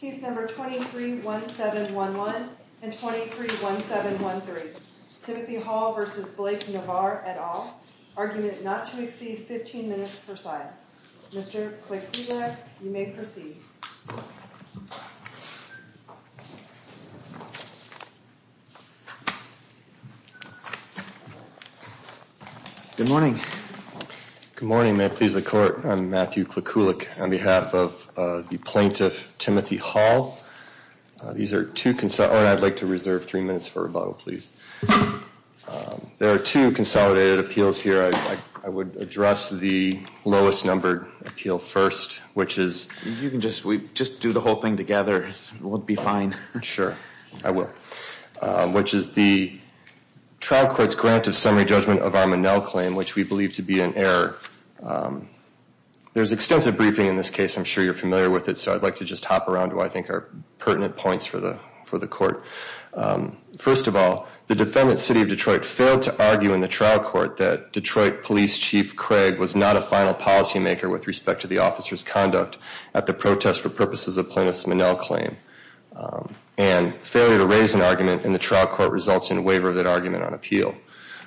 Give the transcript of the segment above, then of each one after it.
Case number 231711 and 231713. Timothy Hall v. Blake Navarre et al. Argument not to exceed 15 minutes per side. Mr. Klikulik, you may proceed. Good morning. Good morning. May it please the court, I'm Matthew Klikulik on behalf of the plaintiff, Timothy Hall. These are two, I'd like to reserve three minutes for rebuttal, please. There are two consolidated appeals here. I would address the lowest numbered appeal first, which is... You can just do the whole thing together, we'll be fine. Sure, I will. Which is the trial court's grant of summary judgment of Armonell claim, which we believe to be an error. There's extensive briefing in this case, I'm sure you're familiar with it, so I'd like to just hop around to what I think are pertinent points for the court. First of all, the defendant, City of Detroit, failed to argue in the trial court that Detroit Police Chief Craig was not a final policymaker with respect to the officer's conduct at the protest for purposes of Plaintiff's Manell claim. And failure to raise an argument in the trial court results in waiver of that argument on appeal.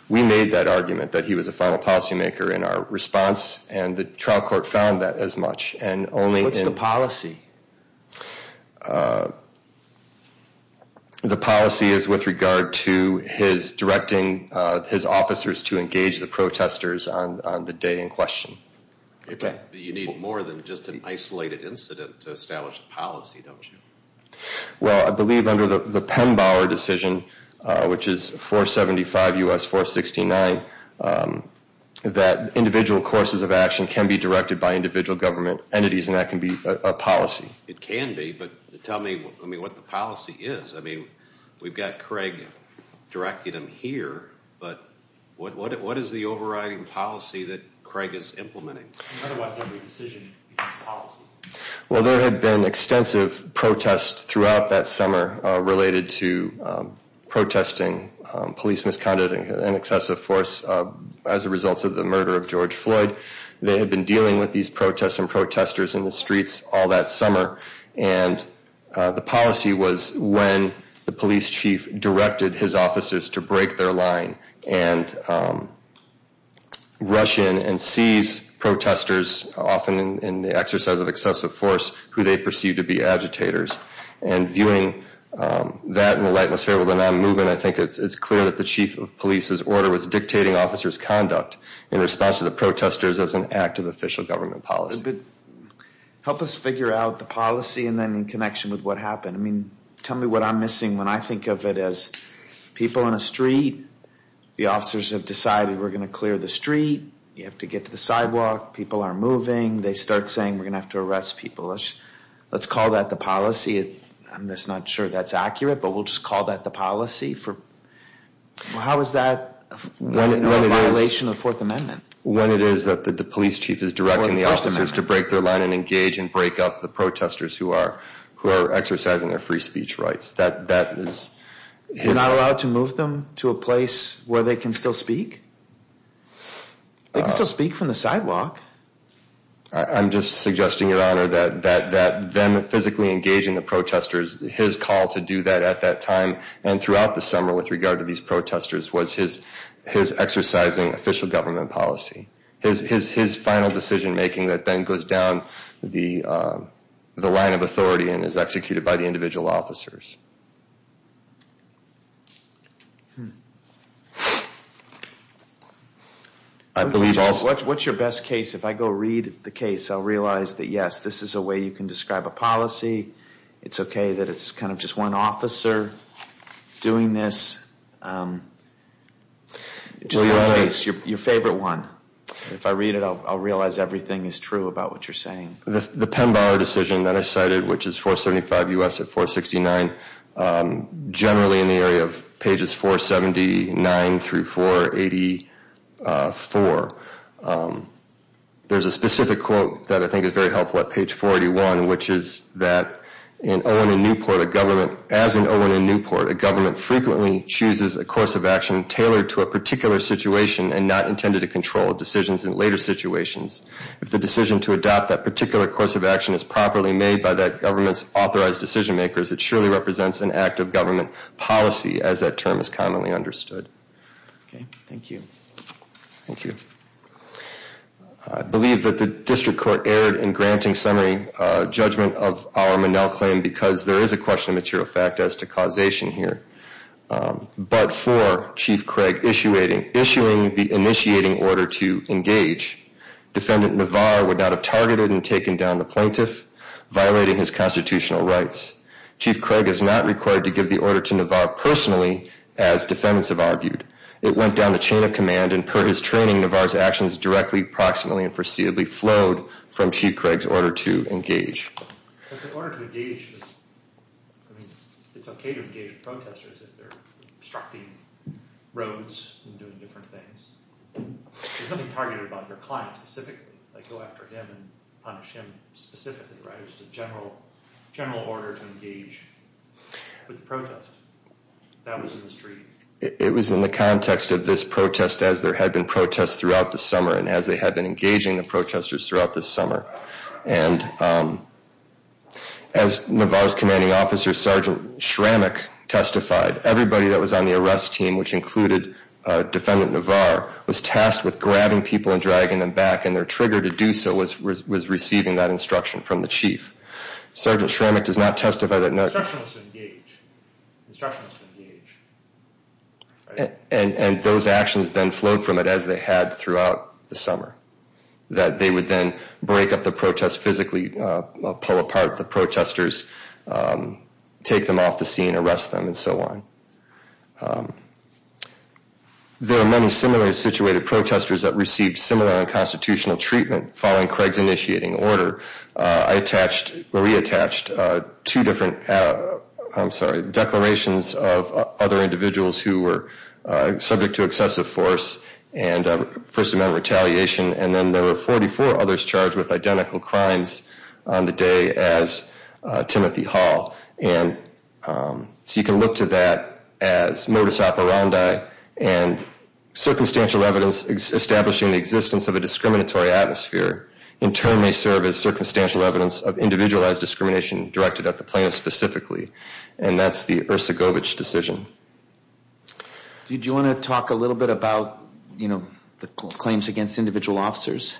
We made that argument that he was a final policymaker in our response, and the trial court found that as much, and only in... The policy is with regard to his directing his officers to engage the protesters on the day in question. You need more than just an isolated incident to establish a policy, don't you? Well, I believe under the Penn-Bauer decision, which is 475 U.S. 469, that individual courses of action can be directed by individual government entities, and that can be a policy. It can be, but tell me what the policy is. I mean, we've got Craig directing them here, but what is the overriding policy that Craig is implementing? Otherwise, every decision becomes policy. Well, there had been extensive protests throughout that summer related to protesting police misconduct and excessive force as a result of the murder of George Floyd. They had been dealing with these protests and protesters in the streets all that summer, and the policy was when the police chief directed his officers to break their line and rush in and seize protesters, often in the exercise of excessive force, who they perceived to be agitators. And viewing that in the lightness of the movement, I think it's clear that the chief of police's order was dictating officers' conduct in response to the protesters as an act of official government policy. Help us figure out the policy and then in connection with what happened. I mean, tell me what I'm missing when I think of it as people in a street, the officers have decided we're going to clear the street, you have to get to the sidewalk, people are moving, they start saying we're going to have to arrest people. Let's call that the policy. I'm just not sure that's accurate, but we'll just call that the policy. How is that a violation of the Fourth Amendment? When it is that the police chief is directing the officers to break their line and engage and break up the protesters who are exercising their free speech rights. You're not allowed to move them to a place where they can still speak? They can still speak from the sidewalk. I'm just suggesting, Your Honor, that them physically engaging the protesters, his call to do that at that time and throughout the summer with regard to these protesters was his exercising official government policy. His final decision making that then goes down the line of authority and is executed by the individual officers. What's your best case? If I go read the case, I'll realize that yes, this is a way you can describe a policy. It's okay that it's kind of just one officer doing this. It's your favorite one. If I read it, I'll realize everything is true about what you're saying. The Penn Bar decision that I cited, which is 475 U.S. at 469, generally in the area of pages 479 through 484, there's a specific quote that I think is very helpful at page 481, which is that in Owen and Newport, as in Owen and Newport, a government frequently chooses a course of action tailored to a particular situation and not intended to control decisions in later situations. If the decision to adopt that particular course of action is properly made by that government's authorized decision makers, it surely represents an act of government policy as that term is commonly understood. Okay, thank you. Thank you. I believe that the district court erred in granting summary judgment of our Monell claim because there is a question of material fact as to causation here. But for Chief Craig issuing the initiating order to engage, Defendant Navar would not have targeted and taken down the plaintiff, violating his constitutional rights. Chief Craig is not required to give the order to Navar personally, as defendants have argued. It went down the chain of command, and per his training, Navar's actions directly, proximately, and foreseeably flowed from Chief Craig's order to engage. But the order to engage was, I mean, it's okay to engage protesters if they're obstructing roads and doing different things. There's nothing targeted about your client specifically, like go after him and punish him specifically, right? It was just a general order to engage with the protest that was in the street. It was in the context of this protest as there had been protests throughout the summer and as they had been engaging the protesters throughout the summer. And as Navar's commanding officer, Sergeant Shramick, testified, everybody that was on the arrest team, which included Defendant Navar, was tasked with grabbing people and dragging them back, and their trigger to do so was receiving that instruction from the chief. Sergeant Shramick does not testify that Navar... Instruction was to engage. Instruction was to engage. And those actions then flowed from it as they had throughout the summer, that they would then break up the protest physically, pull apart the protesters, take them off the scene, arrest them, and so on. There are many similarly situated protesters that received similar unconstitutional treatment following Craig's initiating order. I attached, or he attached, two different, I'm sorry, declarations of other individuals who were subject to excessive force and first-amend retaliation, and then there were 44 others charged with identical crimes on the day as Timothy Hall. And so you can look to that as modus operandi, and circumstantial evidence establishing the existence of a discriminatory atmosphere in turn may serve as circumstantial evidence of individualized discrimination directed at the plaintiff specifically. And that's the Ercegovich decision. Did you want to talk a little bit about, you know, the claims against individual officers?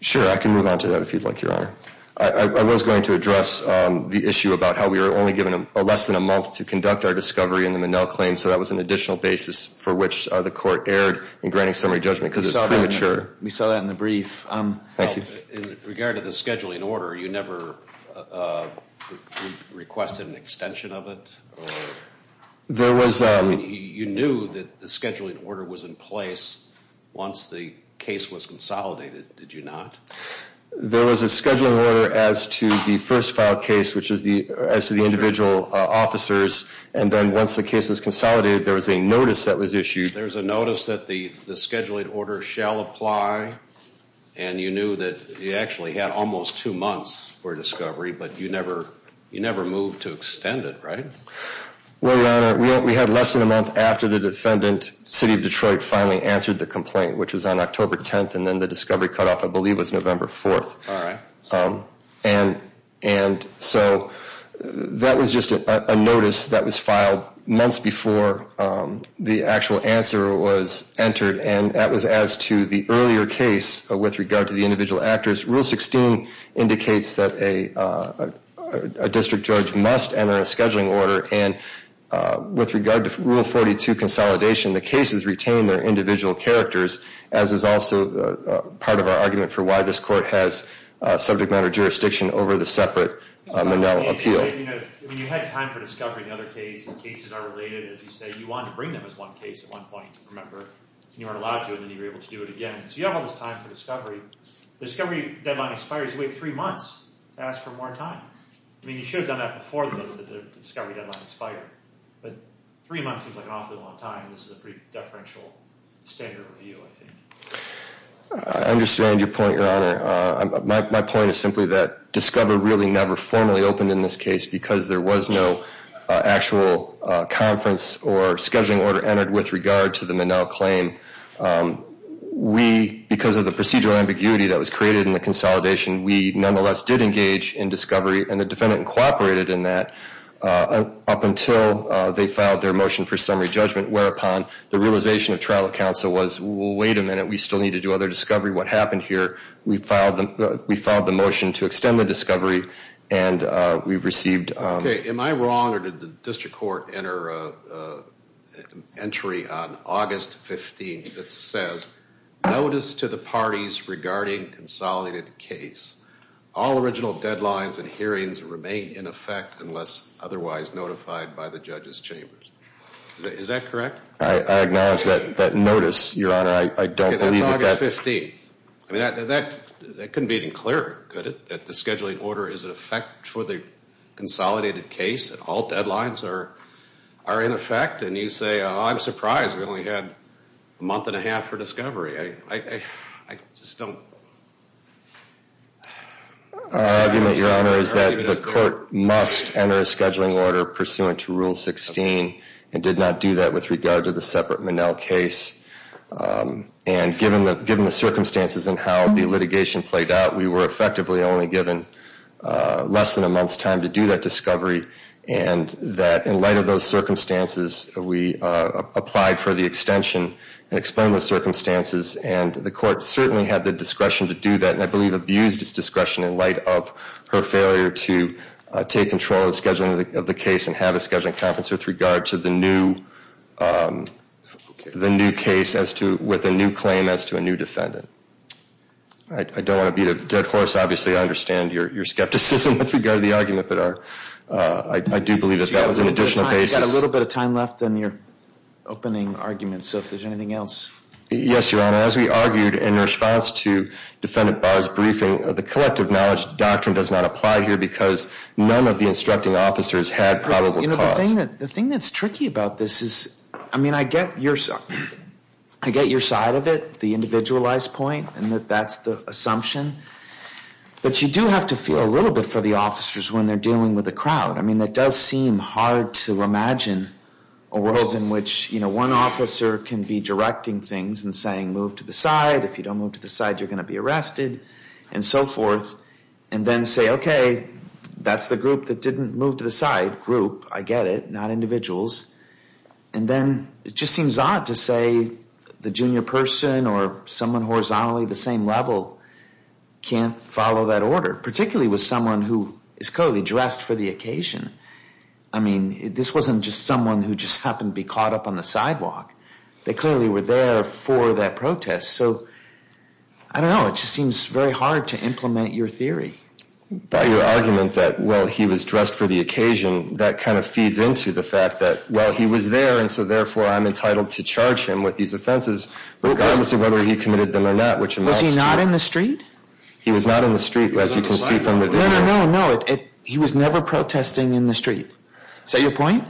Sure, I can move on to that if you'd like, Your Honor. I was going to address the issue about how we were only given less than a month to conduct our discovery in the Minnell claim, so that was an additional basis for which the court erred in granting summary judgment because it's premature. We saw that in the brief. Thank you. In regard to the scheduling order, you never requested an extension of it? You knew that the scheduling order was in place once the case was consolidated, did you not? There was a scheduling order as to the first filed case, which is as to the individual officers, and then once the case was consolidated, there was a notice that was issued. There was a notice that the scheduling order shall apply, and you knew that you actually had almost two months for discovery, but you never moved to extend it, right? Well, Your Honor, we had less than a month after the defendant, City of Detroit, finally answered the complaint, which was on October 10th, and then the discovery cutoff, I believe, was November 4th. So that was just a notice that was filed months before the actual answer was entered, and that was as to the earlier case with regard to the individual actors. Rule 16 indicates that a district judge must enter a scheduling order, and with regard to Rule 42 consolidation, the cases retain their individual characters, as is also part of our argument for why this court has subject matter jurisdiction over the separate Monell appeal. You had time for discovery in the other cases. Cases are related, as you say. You wanted to bring them as one case at one point, remember? You weren't allowed to, and then you were able to do it again. So you have all this time for discovery. The discovery deadline expires with three months. Ask for more time. I mean, you should have done that before the discovery deadline expired, but three months seems like an awfully long time. This is a pretty deferential standard review, I think. I understand your point, Your Honor. My point is simply that discover really never formally opened in this case because there was no actual conference or scheduling order entered with regard to the Monell claim. We, because of the procedural ambiguity that was created in the consolidation, we nonetheless did engage in discovery, and the defendant cooperated in that up until they filed their motion for summary judgment, whereupon the realization of trial counsel was, well, wait a minute. We still need to do other discovery. What happened here? We filed the motion to extend the discovery, and we received. Okay. Am I wrong, or did the district court enter an entry on August 15th that says, Notice to the parties regarding consolidated case. All original deadlines and hearings remain in effect unless otherwise notified by the judge's chambers. Is that correct? I acknowledge that notice, Your Honor. I don't believe that. That's August 15th. I mean, that couldn't be any clearer, could it? That the scheduling order is in effect for the consolidated case, and all deadlines are in effect, and you say, I'm surprised we only had a month and a half for discovery. I just don't. Our argument, Your Honor, is that the court must enter a scheduling order pursuant to Rule 16 and did not do that with regard to the separate Minnell case. And given the circumstances and how the litigation played out, we were effectively only given less than a month's time to do that discovery, and that in light of those circumstances, we applied for the extension and explained the circumstances, and the court certainly had the discretion to do that, and I believe abused its discretion in light of her failure to take control of the scheduling of the case and have a scheduling conference with regard to the new case with a new claim as to a new defendant. I don't want to beat a dead horse. Obviously, I understand your skepticism with regard to the argument, but I do believe that that was an additional basis. We've got a little bit of time left in your opening argument, so if there's anything else. Yes, Your Honor. As we argued in response to Defendant Barr's briefing, the collective knowledge doctrine does not apply here because none of the instructing officers had probable cause. The thing that's tricky about this is, I mean, I get your side of it, the individualized point, and that that's the assumption, but you do have to feel a little bit for the officers when they're dealing with a crowd. I mean, it does seem hard to imagine a world in which, you know, one officer can be directing things and saying, move to the side. If you don't move to the side, you're going to be arrested and so forth, and then say, okay, that's the group that didn't move to the side. Group, I get it, not individuals. And then it just seems odd to say the junior person or someone horizontally the same level can't follow that order, particularly with someone who is clearly dressed for the occasion. I mean, this wasn't just someone who just happened to be caught up on the sidewalk. They clearly were there for that protest, so I don't know. It just seems very hard to implement your theory. By your argument that, well, he was dressed for the occasion, that kind of feeds into the fact that, well, he was there, and so therefore I'm entitled to charge him with these offenses regardless of whether he committed them or not, which amounts to – Was he not in the street? He was not in the street, as you can see from the video. No, no, no, no. He was never protesting in the street. Is that your point?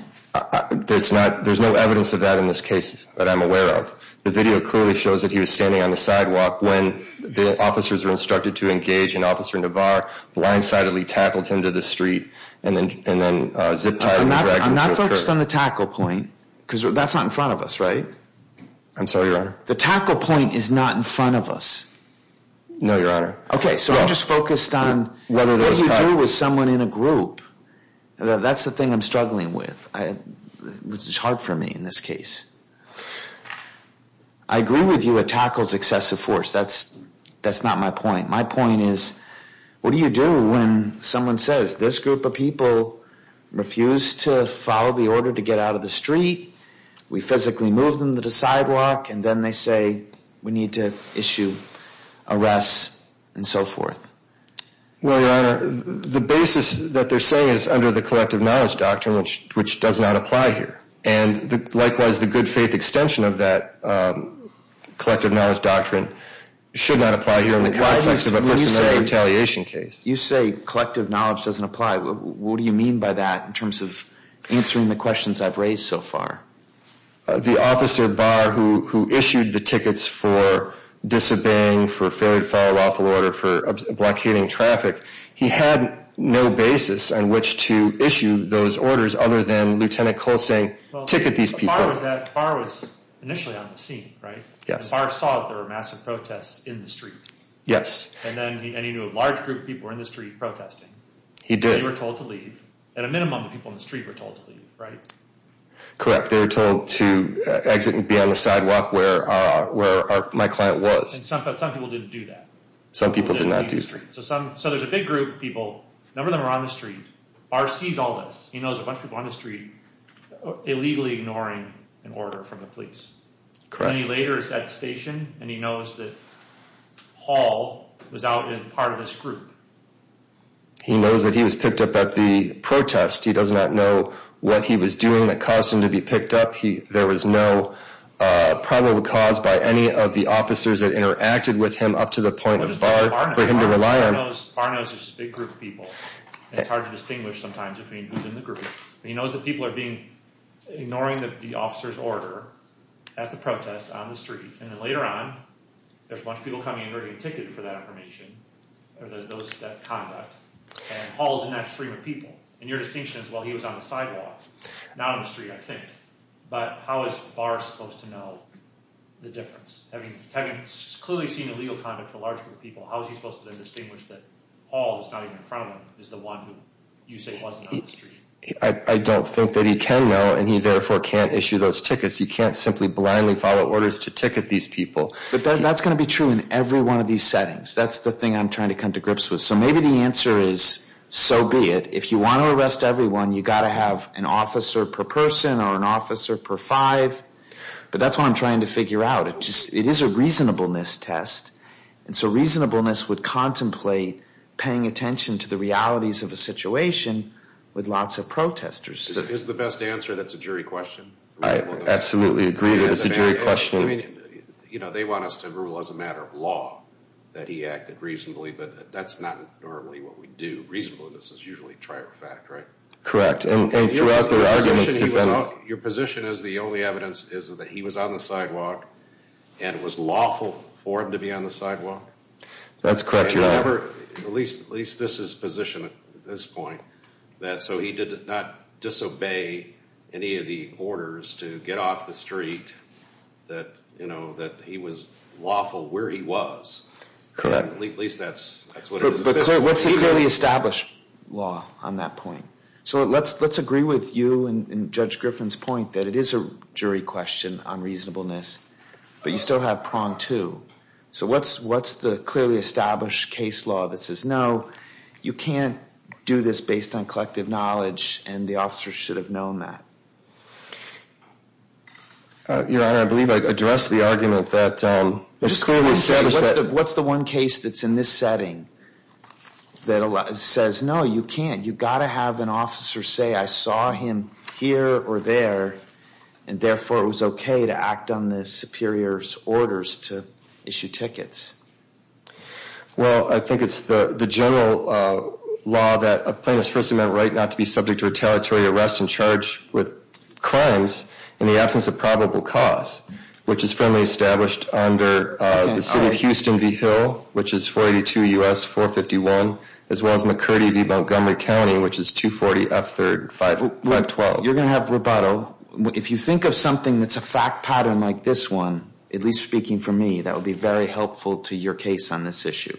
There's no evidence of that in this case that I'm aware of. The video clearly shows that he was standing on the sidewalk when the officers were instructed to engage and Officer Navarre blindsidedly tackled him to the street and then zip-tied and dragged him to a curb. I'm not focused on the tackle point because that's not in front of us, right? I'm sorry, Your Honor. The tackle point is not in front of us. No, Your Honor. Okay, so I'm just focused on what do you do with someone in a group? That's the thing I'm struggling with, which is hard for me in this case. I agree with you it tackles excessive force. That's not my point. My point is what do you do when someone says, this group of people refused to follow the order to get out of the street, we physically moved them to the sidewalk, and then they say we need to issue arrests and so forth? Well, Your Honor, the basis that they're saying is under the collective knowledge doctrine, which does not apply here. And likewise, the good faith extension of that collective knowledge doctrine should not apply here in the context of a personality retaliation case. You say collective knowledge doesn't apply. What do you mean by that in terms of answering the questions I've raised so far? The officer, Barr, who issued the tickets for disobeying, for failure to follow lawful order, for blockading traffic, he had no basis on which to issue those orders other than Lieutenant Coles saying ticket these people. Barr was initially on the scene, right? Yes. Barr saw there were massive protests in the street. Yes. And he knew a large group of people were in the street protesting. He did. They were told to leave. At a minimum, the people in the street were told to leave, right? Correct. They were told to exit and be on the sidewalk where my client was. But some people didn't do that. Some people did not do that. So there's a big group of people. A number of them are on the street. Barr sees all this. He knows a bunch of people on the street illegally ignoring an order from the police. Correct. And then he later is at the station, and he knows that Hall was out as part of this group. He knows that he was picked up at the protest. He does not know what he was doing that caused him to be picked up. There was no probable cause by any of the officers that interacted with him up to the point of Barr for him to rely on. Barr knows there's this big group of people. It's hard to distinguish sometimes between who's in the group. He knows that people are ignoring the officer's order at the protest on the street, and then later on, there's a bunch of people coming in ready to get ticketed for that information or that conduct, and Hall's in that stream of people. And your distinction is, well, he was on the sidewalk. Not on the street, I think. But how is Barr supposed to know the difference? Having clearly seen illegal conduct for a large group of people, how is he supposed to then distinguish that Hall, who's not even in front of him, is the one who you say wasn't on the street? I don't think that he can know, and he therefore can't issue those tickets. He can't simply blindly follow orders to ticket these people. But that's going to be true in every one of these settings. That's the thing I'm trying to come to grips with. So maybe the answer is, so be it. If you want to arrest everyone, you've got to have an officer per person or an officer per five. But that's what I'm trying to figure out. It is a reasonableness test. And so reasonableness would contemplate paying attention to the realities of a situation with lots of protesters. Is the best answer that's a jury question? I absolutely agree that it's a jury question. You know, they want us to rule as a matter of law that he acted reasonably, but that's not normally what we do. Reasonableness is usually a trier fact, right? Correct. And throughout their arguments, defense. Your position is the only evidence is that he was on the sidewalk and it was lawful for him to be on the sidewalk? That's correct, Your Honor. At least this is his position at this point. So he did not disobey any of the orders to get off the street that, you know, that he was lawful where he was. At least that's what it is. But, sir, what's the clearly established law on that point? So let's agree with you and Judge Griffin's point that it is a jury question on reasonableness. But you still have prong two. So what's the clearly established case law that says, no, you can't do this based on collective knowledge, and the officer should have known that? Your Honor, I believe I addressed the argument that it's clearly established. What's the one case that's in this setting that says, no, you can't. You've got to have an officer say, I saw him here or there, and therefore it was okay to act on the superior's orders to issue tickets. Well, I think it's the general law that a plaintiff's first amendment right not to be subject to retaliatory arrest and charged with crimes in the absence of probable cause, which is firmly established under the city of Houston v. Hill, which is 482 U.S. 451, as well as McCurdy v. Montgomery County, which is 240 F3rd 512. You're going to have rebuttal. If you think of something that's a fact pattern like this one, at least speaking for me, that would be very helpful to your case on this issue.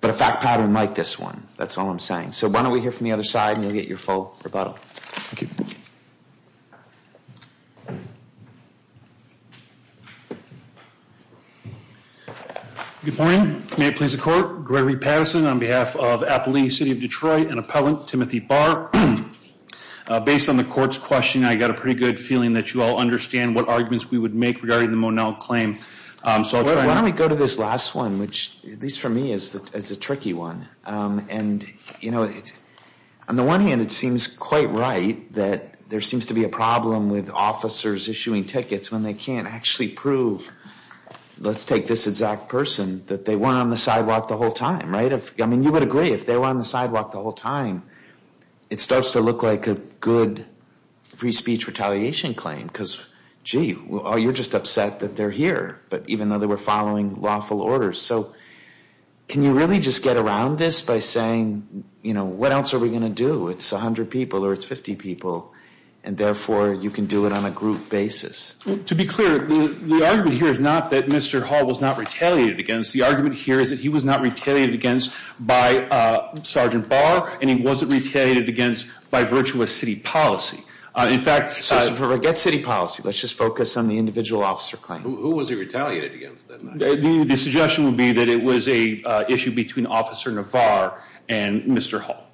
But a fact pattern like this one, that's all I'm saying. So why don't we hear from the other side, and you'll get your full rebuttal. Thank you. Good morning. May it please the court. Gregory Patterson on behalf of Appalachia City of Detroit and appellant Timothy Barr. Based on the court's question, I got a pretty good feeling that you all understand what arguments we would make regarding the Monel claim. Why don't we go to this last one, which at least for me is a tricky one. And, you know, on the one hand it seems quite right that there seems to be a problem with officers issuing tickets when they can't actually prove, let's take this exact person, that they weren't on the sidewalk the whole time, right? I mean, you would agree, if they were on the sidewalk the whole time, it starts to look like a good free speech retaliation claim. Because, gee, you're just upset that they're here, but even though they were following lawful orders. So can you really just get around this by saying, you know, what else are we going to do? It's 100 people or it's 50 people, and therefore you can do it on a group basis. To be clear, the argument here is not that Mr. Hall was not retaliated against. The argument here is that he was not retaliated against by Sergeant Barr, and he wasn't retaliated against by virtuous city policy. In fact, let's forget city policy. Let's just focus on the individual officer claim. Who was he retaliated against that night? The suggestion would be that it was an issue between Officer Navar and Mr. Hall.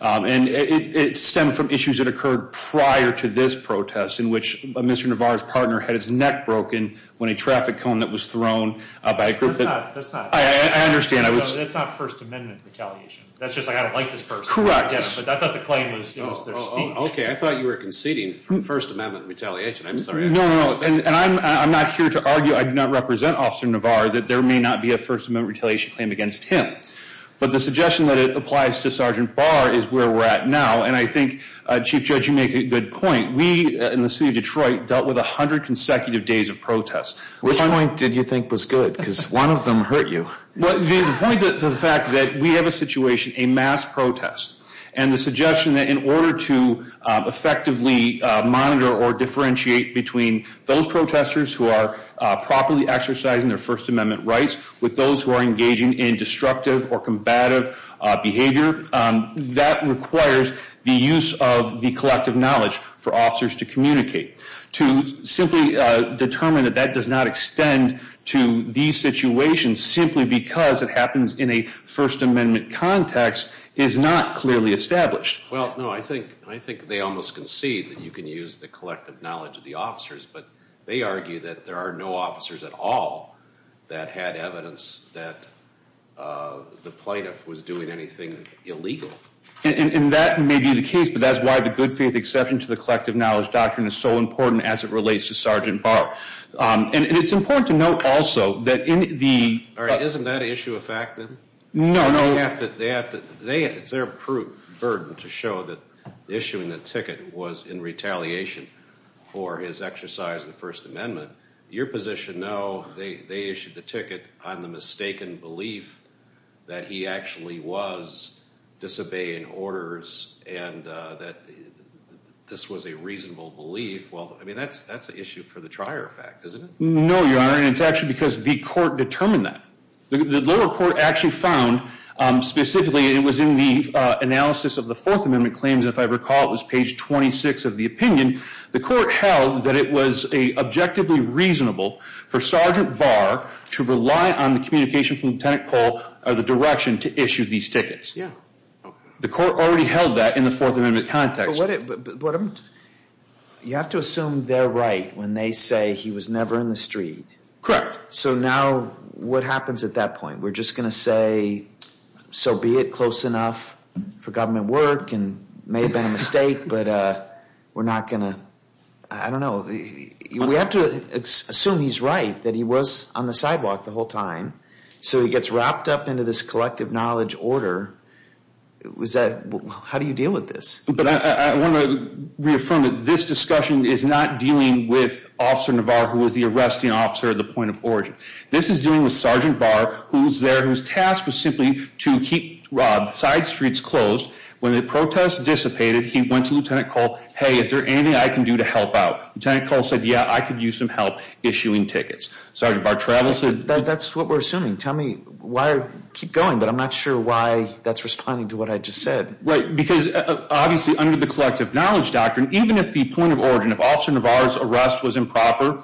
And it stemmed from issues that occurred prior to this protest, in which Mr. Navar's partner had his neck broken when a traffic cone that was thrown by a group that- That's not- I understand. That's not First Amendment retaliation. That's just like, I don't like this person. Correct. I thought the claim was their speech. Okay, I thought you were conceding First Amendment retaliation. I'm sorry. No, no, no, and I'm not here to argue, I do not represent Officer Navar, that there may not be a First Amendment retaliation claim against him. But the suggestion that it applies to Sergeant Barr is where we're at now, and I think, Chief Judge, you make a good point. We, in the city of Detroit, dealt with 100 consecutive days of protests. Which point did you think was good? Because one of them hurt you. Well, the point to the fact that we have a situation, a mass protest, and the suggestion that in order to effectively monitor or differentiate between those protesters who are properly exercising their First Amendment rights with those who are engaging in destructive or combative behavior, that requires the use of the collective knowledge for officers to communicate. To simply determine that that does not extend to these situations simply because it happens in a First Amendment context is not clearly established. Well, no, I think they almost concede that you can use the collective knowledge of the officers, but they argue that there are no officers at all that had evidence that the plaintiff was doing anything illegal. And that may be the case, but that's why the good faith exception to the collective knowledge doctrine is so important as it relates to Sergeant Barr. And it's important to note also that in the— All right, isn't that issue a fact then? No, no. They have to—it's their burden to show that issuing the ticket was in retaliation for his exercise of the First Amendment. Your position, no. They issued the ticket on the mistaken belief that he actually was disobeying orders and that this was a reasonable belief. Well, I mean, that's an issue for the trier effect, isn't it? No, Your Honor, and it's actually because the court determined that. The lower court actually found, specifically, it was in the analysis of the Fourth Amendment claims, and if I recall, it was page 26 of the opinion. The court held that it was objectively reasonable for Sergeant Barr to rely on the communication from Lieutenant Cole of the direction to issue these tickets. Yeah. The court already held that in the Fourth Amendment context. But you have to assume they're right when they say he was never in the street. Correct. So now what happens at that point? We're just going to say, so be it, close enough for government work. It may have been a mistake, but we're not going to—I don't know. We have to assume he's right, that he was on the sidewalk the whole time. So he gets wrapped up into this collective knowledge order. How do you deal with this? But I want to reaffirm that this discussion is not dealing with Officer Navarro, who was the arresting officer at the point of origin. This is dealing with Sergeant Barr, who was there, whose task was simply to keep side streets closed. When the protests dissipated, he went to Lieutenant Cole, hey, is there anything I can do to help out? Lieutenant Cole said, yeah, I could use some help issuing tickets. Sergeant Barr travels to— That's what we're assuming. Tell me why—keep going, but I'm not sure why that's responding to what I just said. Right, because obviously under the collective knowledge doctrine, even if the point of origin of Officer Navarro's arrest was improper,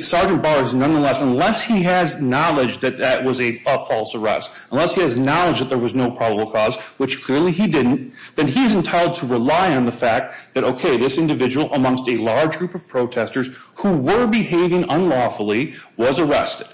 Sergeant Barr has nonetheless—unless he has knowledge that that was a false arrest, unless he has knowledge that there was no probable cause, which clearly he didn't, then he is entitled to rely on the fact that, okay, this individual amongst a large group of protesters who were behaving unlawfully was arrested.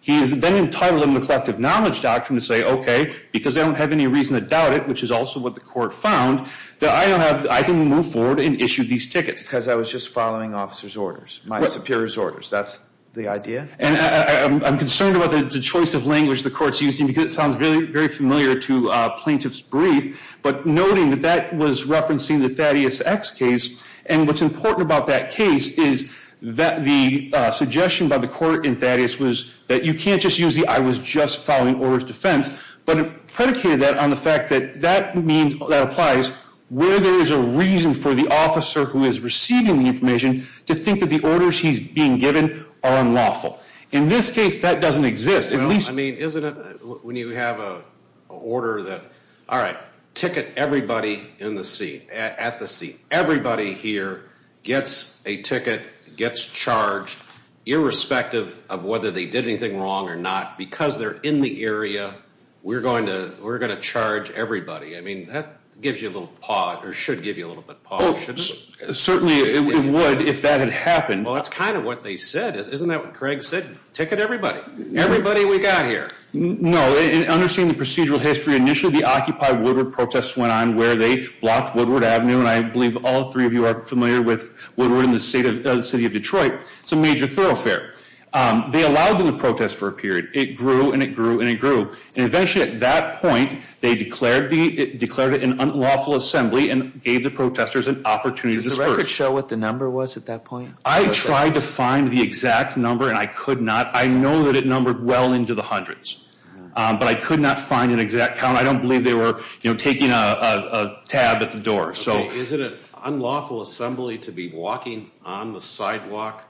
He is then entitled under the collective knowledge doctrine to say, okay, because they don't have any reason to doubt it, which is also what the court found, that I don't have—I can move forward and issue these tickets. Because I was just following officer's orders, my superior's orders. That's the idea. And I'm concerned about the choice of language the court's using, because it sounds very familiar to plaintiff's brief, but noting that that was referencing the Thaddeus X case, and what's important about that case is that the suggestion by the court in Thaddeus was that you can't just use the I was just following orders defense, but it predicated that on the fact that that means—that applies where there is a reason for the officer who is receiving the information to think that the orders he's being given are unlawful. In this case, that doesn't exist. Well, I mean, isn't it when you have an order that, all right, ticket everybody in the seat, at the seat. Everybody here gets a ticket, gets charged, irrespective of whether they did anything wrong or not. Because they're in the area, we're going to charge everybody. I mean, that gives you a little pause, or should give you a little bit of pause. Oh, certainly it would if that had happened. Well, that's kind of what they said. Isn't that what Craig said? Ticket everybody. Everybody we got here. No. And understanding the procedural history, initially the Occupy Woodward protests went on where they blocked Woodward Avenue, and I believe all three of you are familiar with Woodward and the city of Detroit. It's a major thoroughfare. They allowed them to protest for a period. It grew, and it grew, and it grew. And eventually at that point, they declared it an unlawful assembly and gave the protesters an opportunity to disperse. Does the record show what the number was at that point? I tried to find the exact number, and I could not. I know that it numbered well into the hundreds, but I could not find an exact count. I don't believe they were taking a tab at the door. Okay, is it an unlawful assembly to be walking on the sidewalk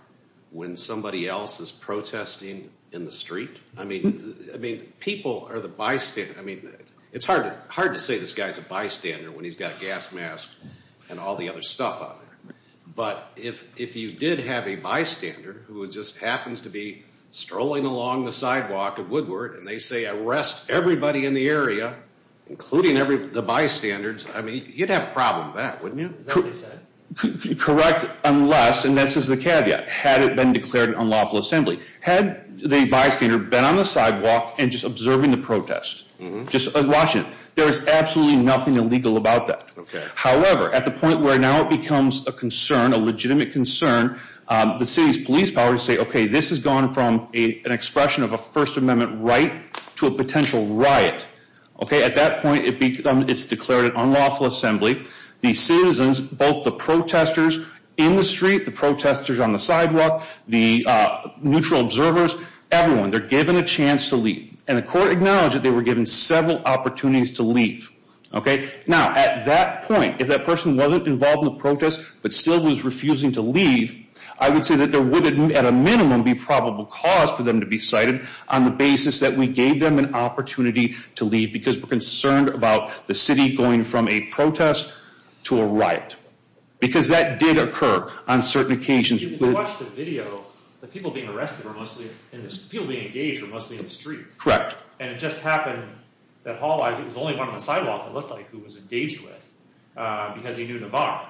when somebody else is protesting in the street? I mean, people are the bystanders. I mean, it's hard to say this guy's a bystander when he's got a gas mask and all the other stuff out there. But if you did have a bystander who just happens to be strolling along the sidewalk at Woodward and they say arrest everybody in the area, including the bystanders, I mean, you'd have a problem with that, wouldn't you? Correct unless, and this is the caveat, had it been declared an unlawful assembly. Had the bystander been on the sidewalk and just observing the protest, just watching it, there is absolutely nothing illegal about that. However, at the point where now it becomes a concern, a legitimate concern, the city's police powers say, okay, this has gone from an expression of a First Amendment right to a potential riot. Okay, at that point, it's declared an unlawful assembly. The citizens, both the protesters in the street, the protesters on the sidewalk, the neutral observers, everyone, they're given a chance to leave. And the court acknowledged that they were given several opportunities to leave. Okay, now at that point, if that person wasn't involved in the protest but still was refusing to leave, I would say that there would at a minimum be probable cause for them to be cited on the basis that we gave them an opportunity to leave because we're concerned about the city going from a protest to a riot. Because that did occur on certain occasions. If you watch the video, the people being arrested were mostly, people being engaged were mostly in the street. Correct. And it just happened that Hall, he was the only one on the sidewalk, it looked like, who was engaged with because he knew Navarro.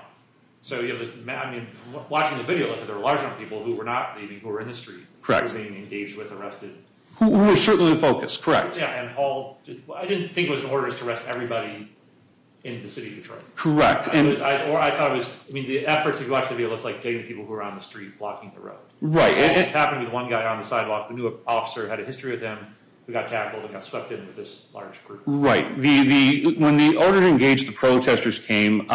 So, I mean, watching the video, there were a large number of people who were not leaving, who were in the street. Correct. Who were being engaged with, arrested. Who were certainly focused, correct. Yeah, and Hall, I didn't think it was in order to arrest everybody in the city of Detroit. Correct. Or I thought it was, I mean, the efforts if you watch the video, it's like getting people who are on the street, blocking the road. Right. And it just happened with one guy on the sidewalk, the new officer had a history with him, who got tackled and got swept into this large group. Right. When the order to engage the protesters came,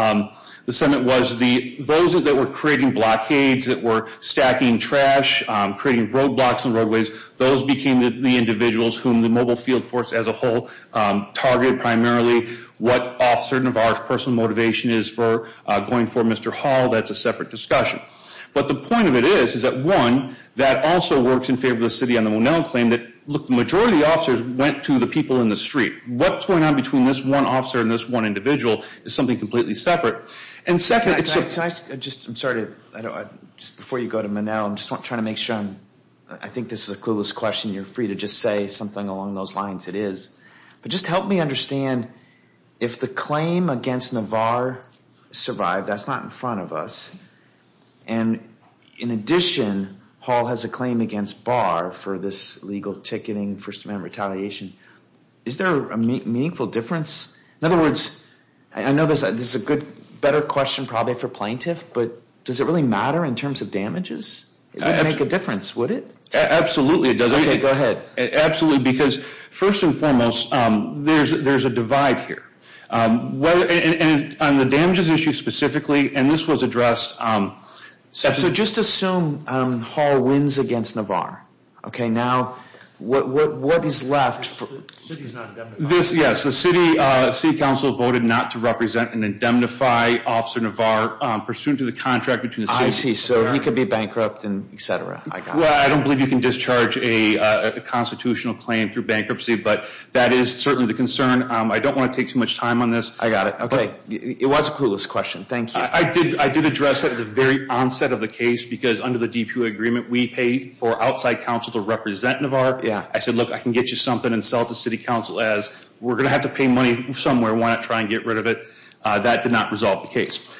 the Senate was, those that were creating blockades, that were stacking trash, creating roadblocks on roadways, those became the individuals whom the mobile field force as a whole targeted primarily. What officer Navarro's personal motivation is for going for Mr. Hall, that's a separate discussion. But the point of it is, is that one, that also works in favor of the city on the Monell claim that, look, the majority of the officers went to the people in the street. What's going on between this one officer and this one individual is something completely separate. And second, can I just, I'm sorry, just before you go to Monell, I'm just trying to make sure I'm, I think this is a clueless question. You're free to just say something along those lines. It is. But just help me understand, if the claim against Navarro survived, that's not in front of us. And in addition, Hall has a claim against Barr for this illegal ticketing, First Amendment retaliation. Is there a meaningful difference? In other words, I know this is a good, better question probably for plaintiff, but does it really matter in terms of damages? It would make a difference, would it? Absolutely, it does. Okay, go ahead. Absolutely, because first and foremost, there's a divide here. And on the damages issue specifically, and this was addressed. So just assume Hall wins against Navarro. Okay, now what is left? The city's not indemnified. Yes, the city council voted not to represent and indemnify Officer Navarro, pursuant to the contract between the city and the mayor. I see, so he could be bankrupt and et cetera. Well, I don't believe you can discharge a constitutional claim through bankruptcy, but that is certainly the concern. I don't want to take too much time on this. I got it, okay. It was a clueless question, thank you. I did address that at the very onset of the case, because under the DPU agreement, we pay for outside council to represent Navarro. Yeah. I said, look, I can get you something and sell it to city council as we're going to have to pay money somewhere. Why not try and get rid of it? That did not resolve the case.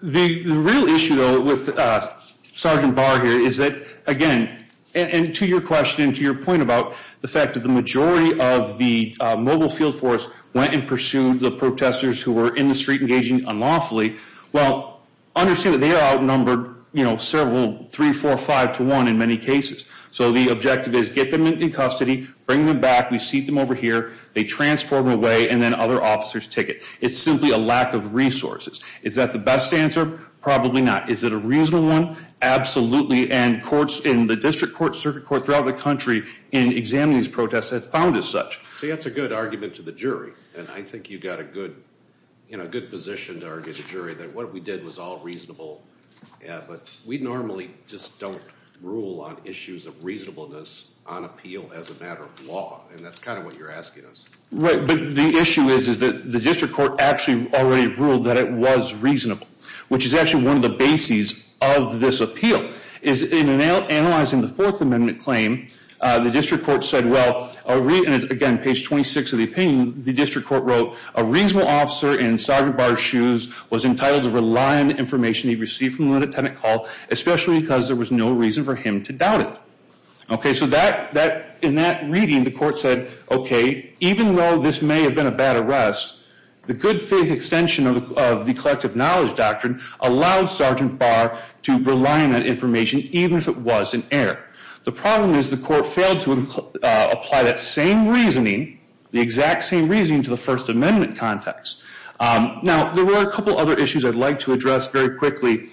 The real issue, though, with Sergeant Barr here is that, again, and to your question, to your point about the fact that the majority of the mobile field force went and pursued the protesters who were in the street engaging unlawfully, well, understand that they are outnumbered, you know, several, three, four, five to one in many cases. So the objective is get them into custody, bring them back, we seat them over here, they transport them away, and then other officers take it. It's simply a lack of resources. Is that the best answer? Probably not. Is it a reasonable one? Absolutely, and courts in the district court, circuit court, throughout the country in examining these protests have found as such. See, that's a good argument to the jury, and I think you've got a good, you know, good position to argue the jury that what we did was all reasonable. Yeah, but we normally just don't rule on issues of reasonableness on appeal as a matter of law, and that's kind of what you're asking us. Right, but the issue is that the district court actually already ruled that it was reasonable, which is actually one of the bases of this appeal, is in analyzing the Fourth Amendment claim, the district court said, well, again, page 26 of the opinion, the district court wrote, a reasonable officer in Sergeant Barr's shoes was entitled to rely on the information he received from a lieutenant call, especially because there was no reason for him to doubt it. Okay, so that, in that reading, the court said, okay, even though this may have been a bad arrest, the good faith extension of the collective knowledge doctrine allowed Sergeant Barr to rely on that information, even if it was in error. The problem is the court failed to apply that same reasoning, the exact same reasoning to the First Amendment context. Now, there were a couple other issues I'd like to address very quickly.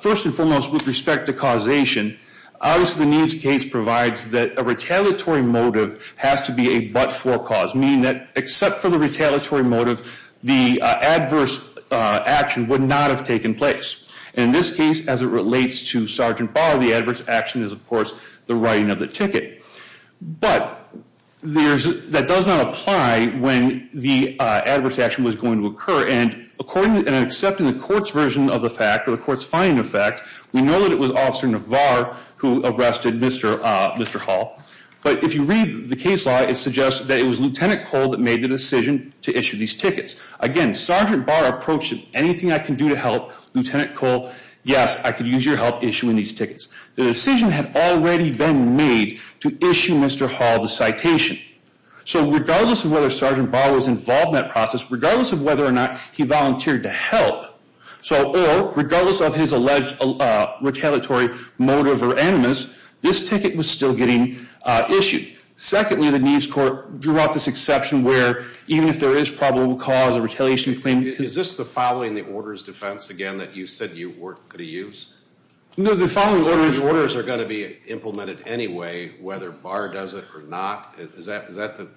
First and foremost, with respect to causation, obviously the Neves case provides that a retaliatory motive has to be a but-for cause, meaning that except for the retaliatory motive, the adverse action would not have taken place. And in this case, as it relates to Sergeant Barr, the adverse action is, of course, the writing of the ticket. But there's, that does not apply when the adverse action was going to occur. And according, and except in the court's version of the fact, or the court's finding of fact, we know that it was Officer Navar who arrested Mr. Hall. But if you read the case law, it suggests that it was Lieutenant Cole that made the decision to issue these tickets. Again, Sergeant Barr approached him, anything I can do to help, Lieutenant Cole, yes, I could use your help issuing these tickets. The decision had already been made to issue Mr. Hall the citation. So regardless of whether Sergeant Barr was involved in that process, regardless of whether or not he volunteered to help, so, or regardless of his alleged retaliatory motive or animus, this ticket was still getting issued. Secondly, the Neves Court drew out this exception where even if there is probable cause of retaliation claim. Is this the following the orders defense again that you said you weren't going to use? No, the following orders. The following orders are going to be implemented anyway, whether Barr does it or not. Is that the?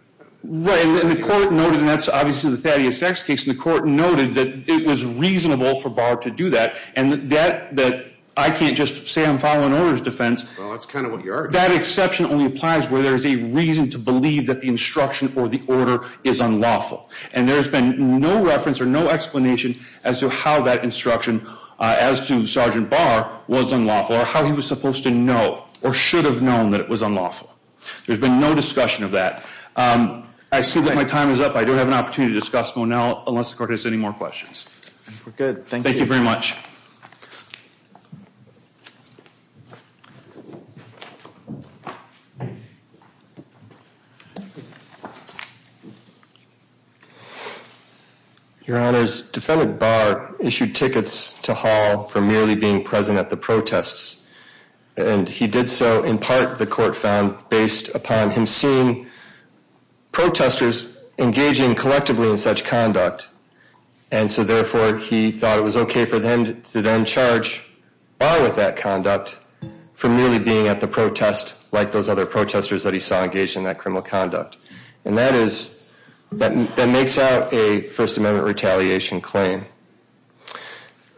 Right, and the court noted, and that's obviously the Thaddeus X case, and the court noted that it was reasonable for Barr to do that. And that, I can't just say I'm following orders defense. Well, that's kind of what you are. That exception only applies where there is a reason to believe that the instruction or the order is unlawful. And there's been no reference or no explanation as to how that instruction as to Sergeant Barr was unlawful or how he was supposed to know or should have known that it was unlawful. There's been no discussion of that. I see that my time is up. I do have an opportunity to discuss Monell unless the court has any more questions. We're good, thank you. Thank you very much. Thank you. Your Honors, defendant Barr issued tickets to Hall for merely being present at the protests. And he did so in part, the court found, based upon him seeing protesters engaging collectively in such conduct. And so therefore, he thought it was okay for them to then charge Barr with that conduct for merely being at the protest like those other protesters that he saw engaged in that criminal conduct. And that is, that makes out a First Amendment retaliation claim.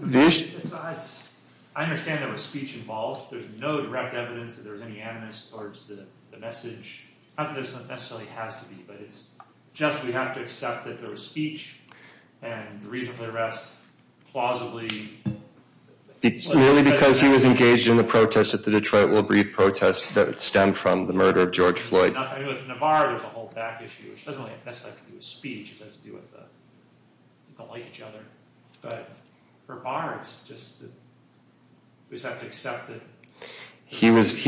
I understand there was speech involved. There's no direct evidence that there was any animus towards the message. Not that there necessarily has to be, but it's just we have to accept that there was speech and the reason for the arrest plausibly. Merely because he was engaged in the protest at the Detroit Woolbreed protest that stemmed from the murder of George Floyd. With Navarro, there's a whole back issue, which doesn't necessarily have to do with speech. It has to do with the like each other. But for Barr, it's just that we just have to accept that. He was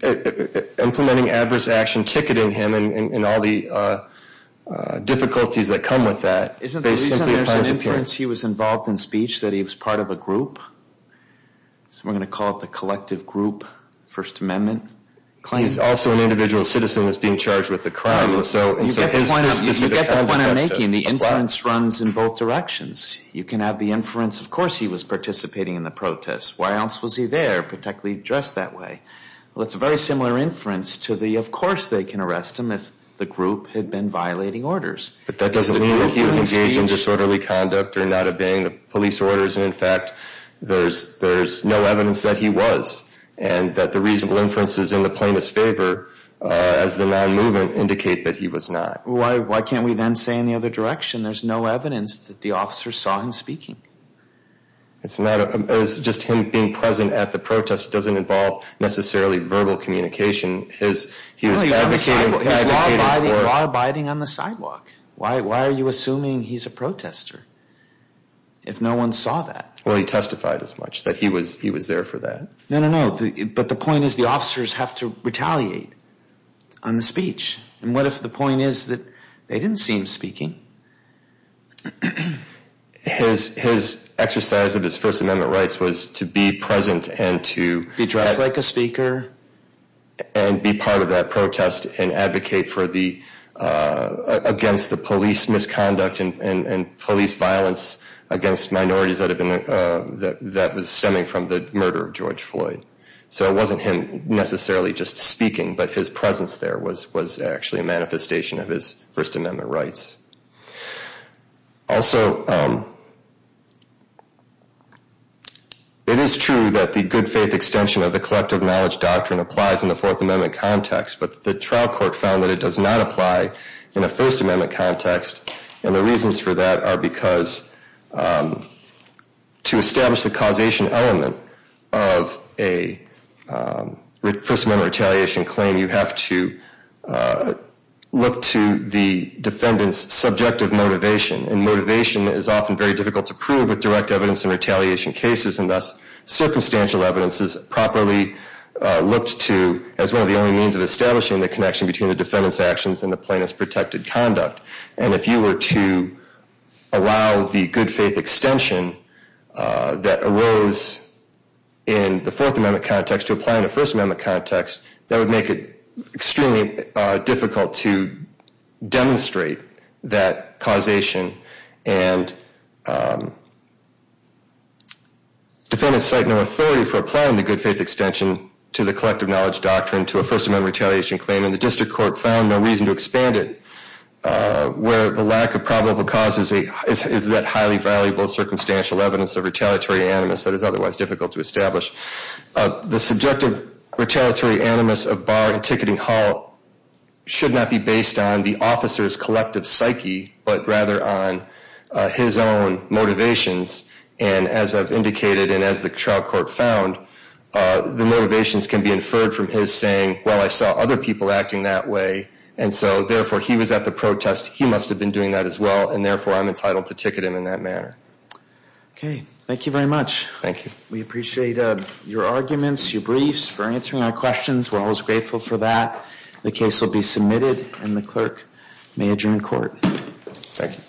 implementing adverse action, ticketing him and all the difficulties that come with that. Isn't the reason there's an inference he was involved in speech that he was part of a group? We're going to call it the collective group First Amendment claim. He's also an individual citizen that's being charged with a crime. You get the point I'm making. The inference runs in both directions. You can have the inference, of course he was participating in the protest. Why else was he there, particularly dressed that way? Well, it's a very similar inference to the, of course they can arrest him if the group had been violating orders. But that doesn't mean he was engaged in disorderly conduct or not obeying the police orders. And in fact, there's no evidence that he was. And that the reasonable inferences in the plaintiff's favor as the non-movement indicate that he was not. Why can't we then say in the other direction there's no evidence that the officer saw him speaking? It's not just him being present at the protest doesn't involve necessarily verbal communication. He was law-abiding on the sidewalk. Why are you assuming he's a protester if no one saw that? Well, he testified as much that he was there for that. No, no, no. But the point is the officers have to retaliate on the speech. And what if the point is that they didn't see him speaking? His exercise of his First Amendment rights was to be present and to... and be part of that protest and advocate for the... against the police misconduct and police violence against minorities that had been... that was stemming from the murder of George Floyd. So it wasn't him necessarily just speaking. But his presence there was actually a manifestation of his First Amendment rights. Also, it is true that the good faith extension of the collective knowledge doctrine applies in the Fourth Amendment context. But the trial court found that it does not apply in a First Amendment context. And the reasons for that are because to establish the causation element of a First Amendment retaliation claim, you have to look to the defendant's subjective motivation. And motivation is often very difficult to prove with direct evidence in retaliation cases. And thus, circumstantial evidence is properly looked to as one of the only means of establishing the connection between the defendant's actions and the plaintiff's protected conduct. And if you were to allow the good faith extension that arose in the Fourth Amendment context to apply in a First Amendment context, that would make it extremely difficult to demonstrate that causation. And defendants cite no authority for applying the good faith extension to the collective knowledge doctrine to a First Amendment retaliation claim. And the district court found no reason to expand it where the lack of probable cause is that highly valuable circumstantial evidence of retaliatory animus that is otherwise difficult to establish. The subjective retaliatory animus of Barr in ticketing hall should not be based on the officer's collective psyche, but rather on his own motivations. And as I've indicated and as the trial court found, the motivations can be inferred from his saying, well, I saw other people acting that way. And so therefore, he was at the protest. He must have been doing that as well. And therefore, I'm entitled to ticket him in that manner. Okay. Thank you very much. Thank you. We appreciate your arguments, your briefs for answering our questions. We're always grateful for that. The case will be submitted, and the clerk may adjourn court. Thank you.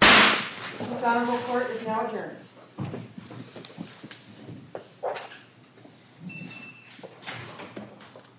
The Senate will court is now adjourned.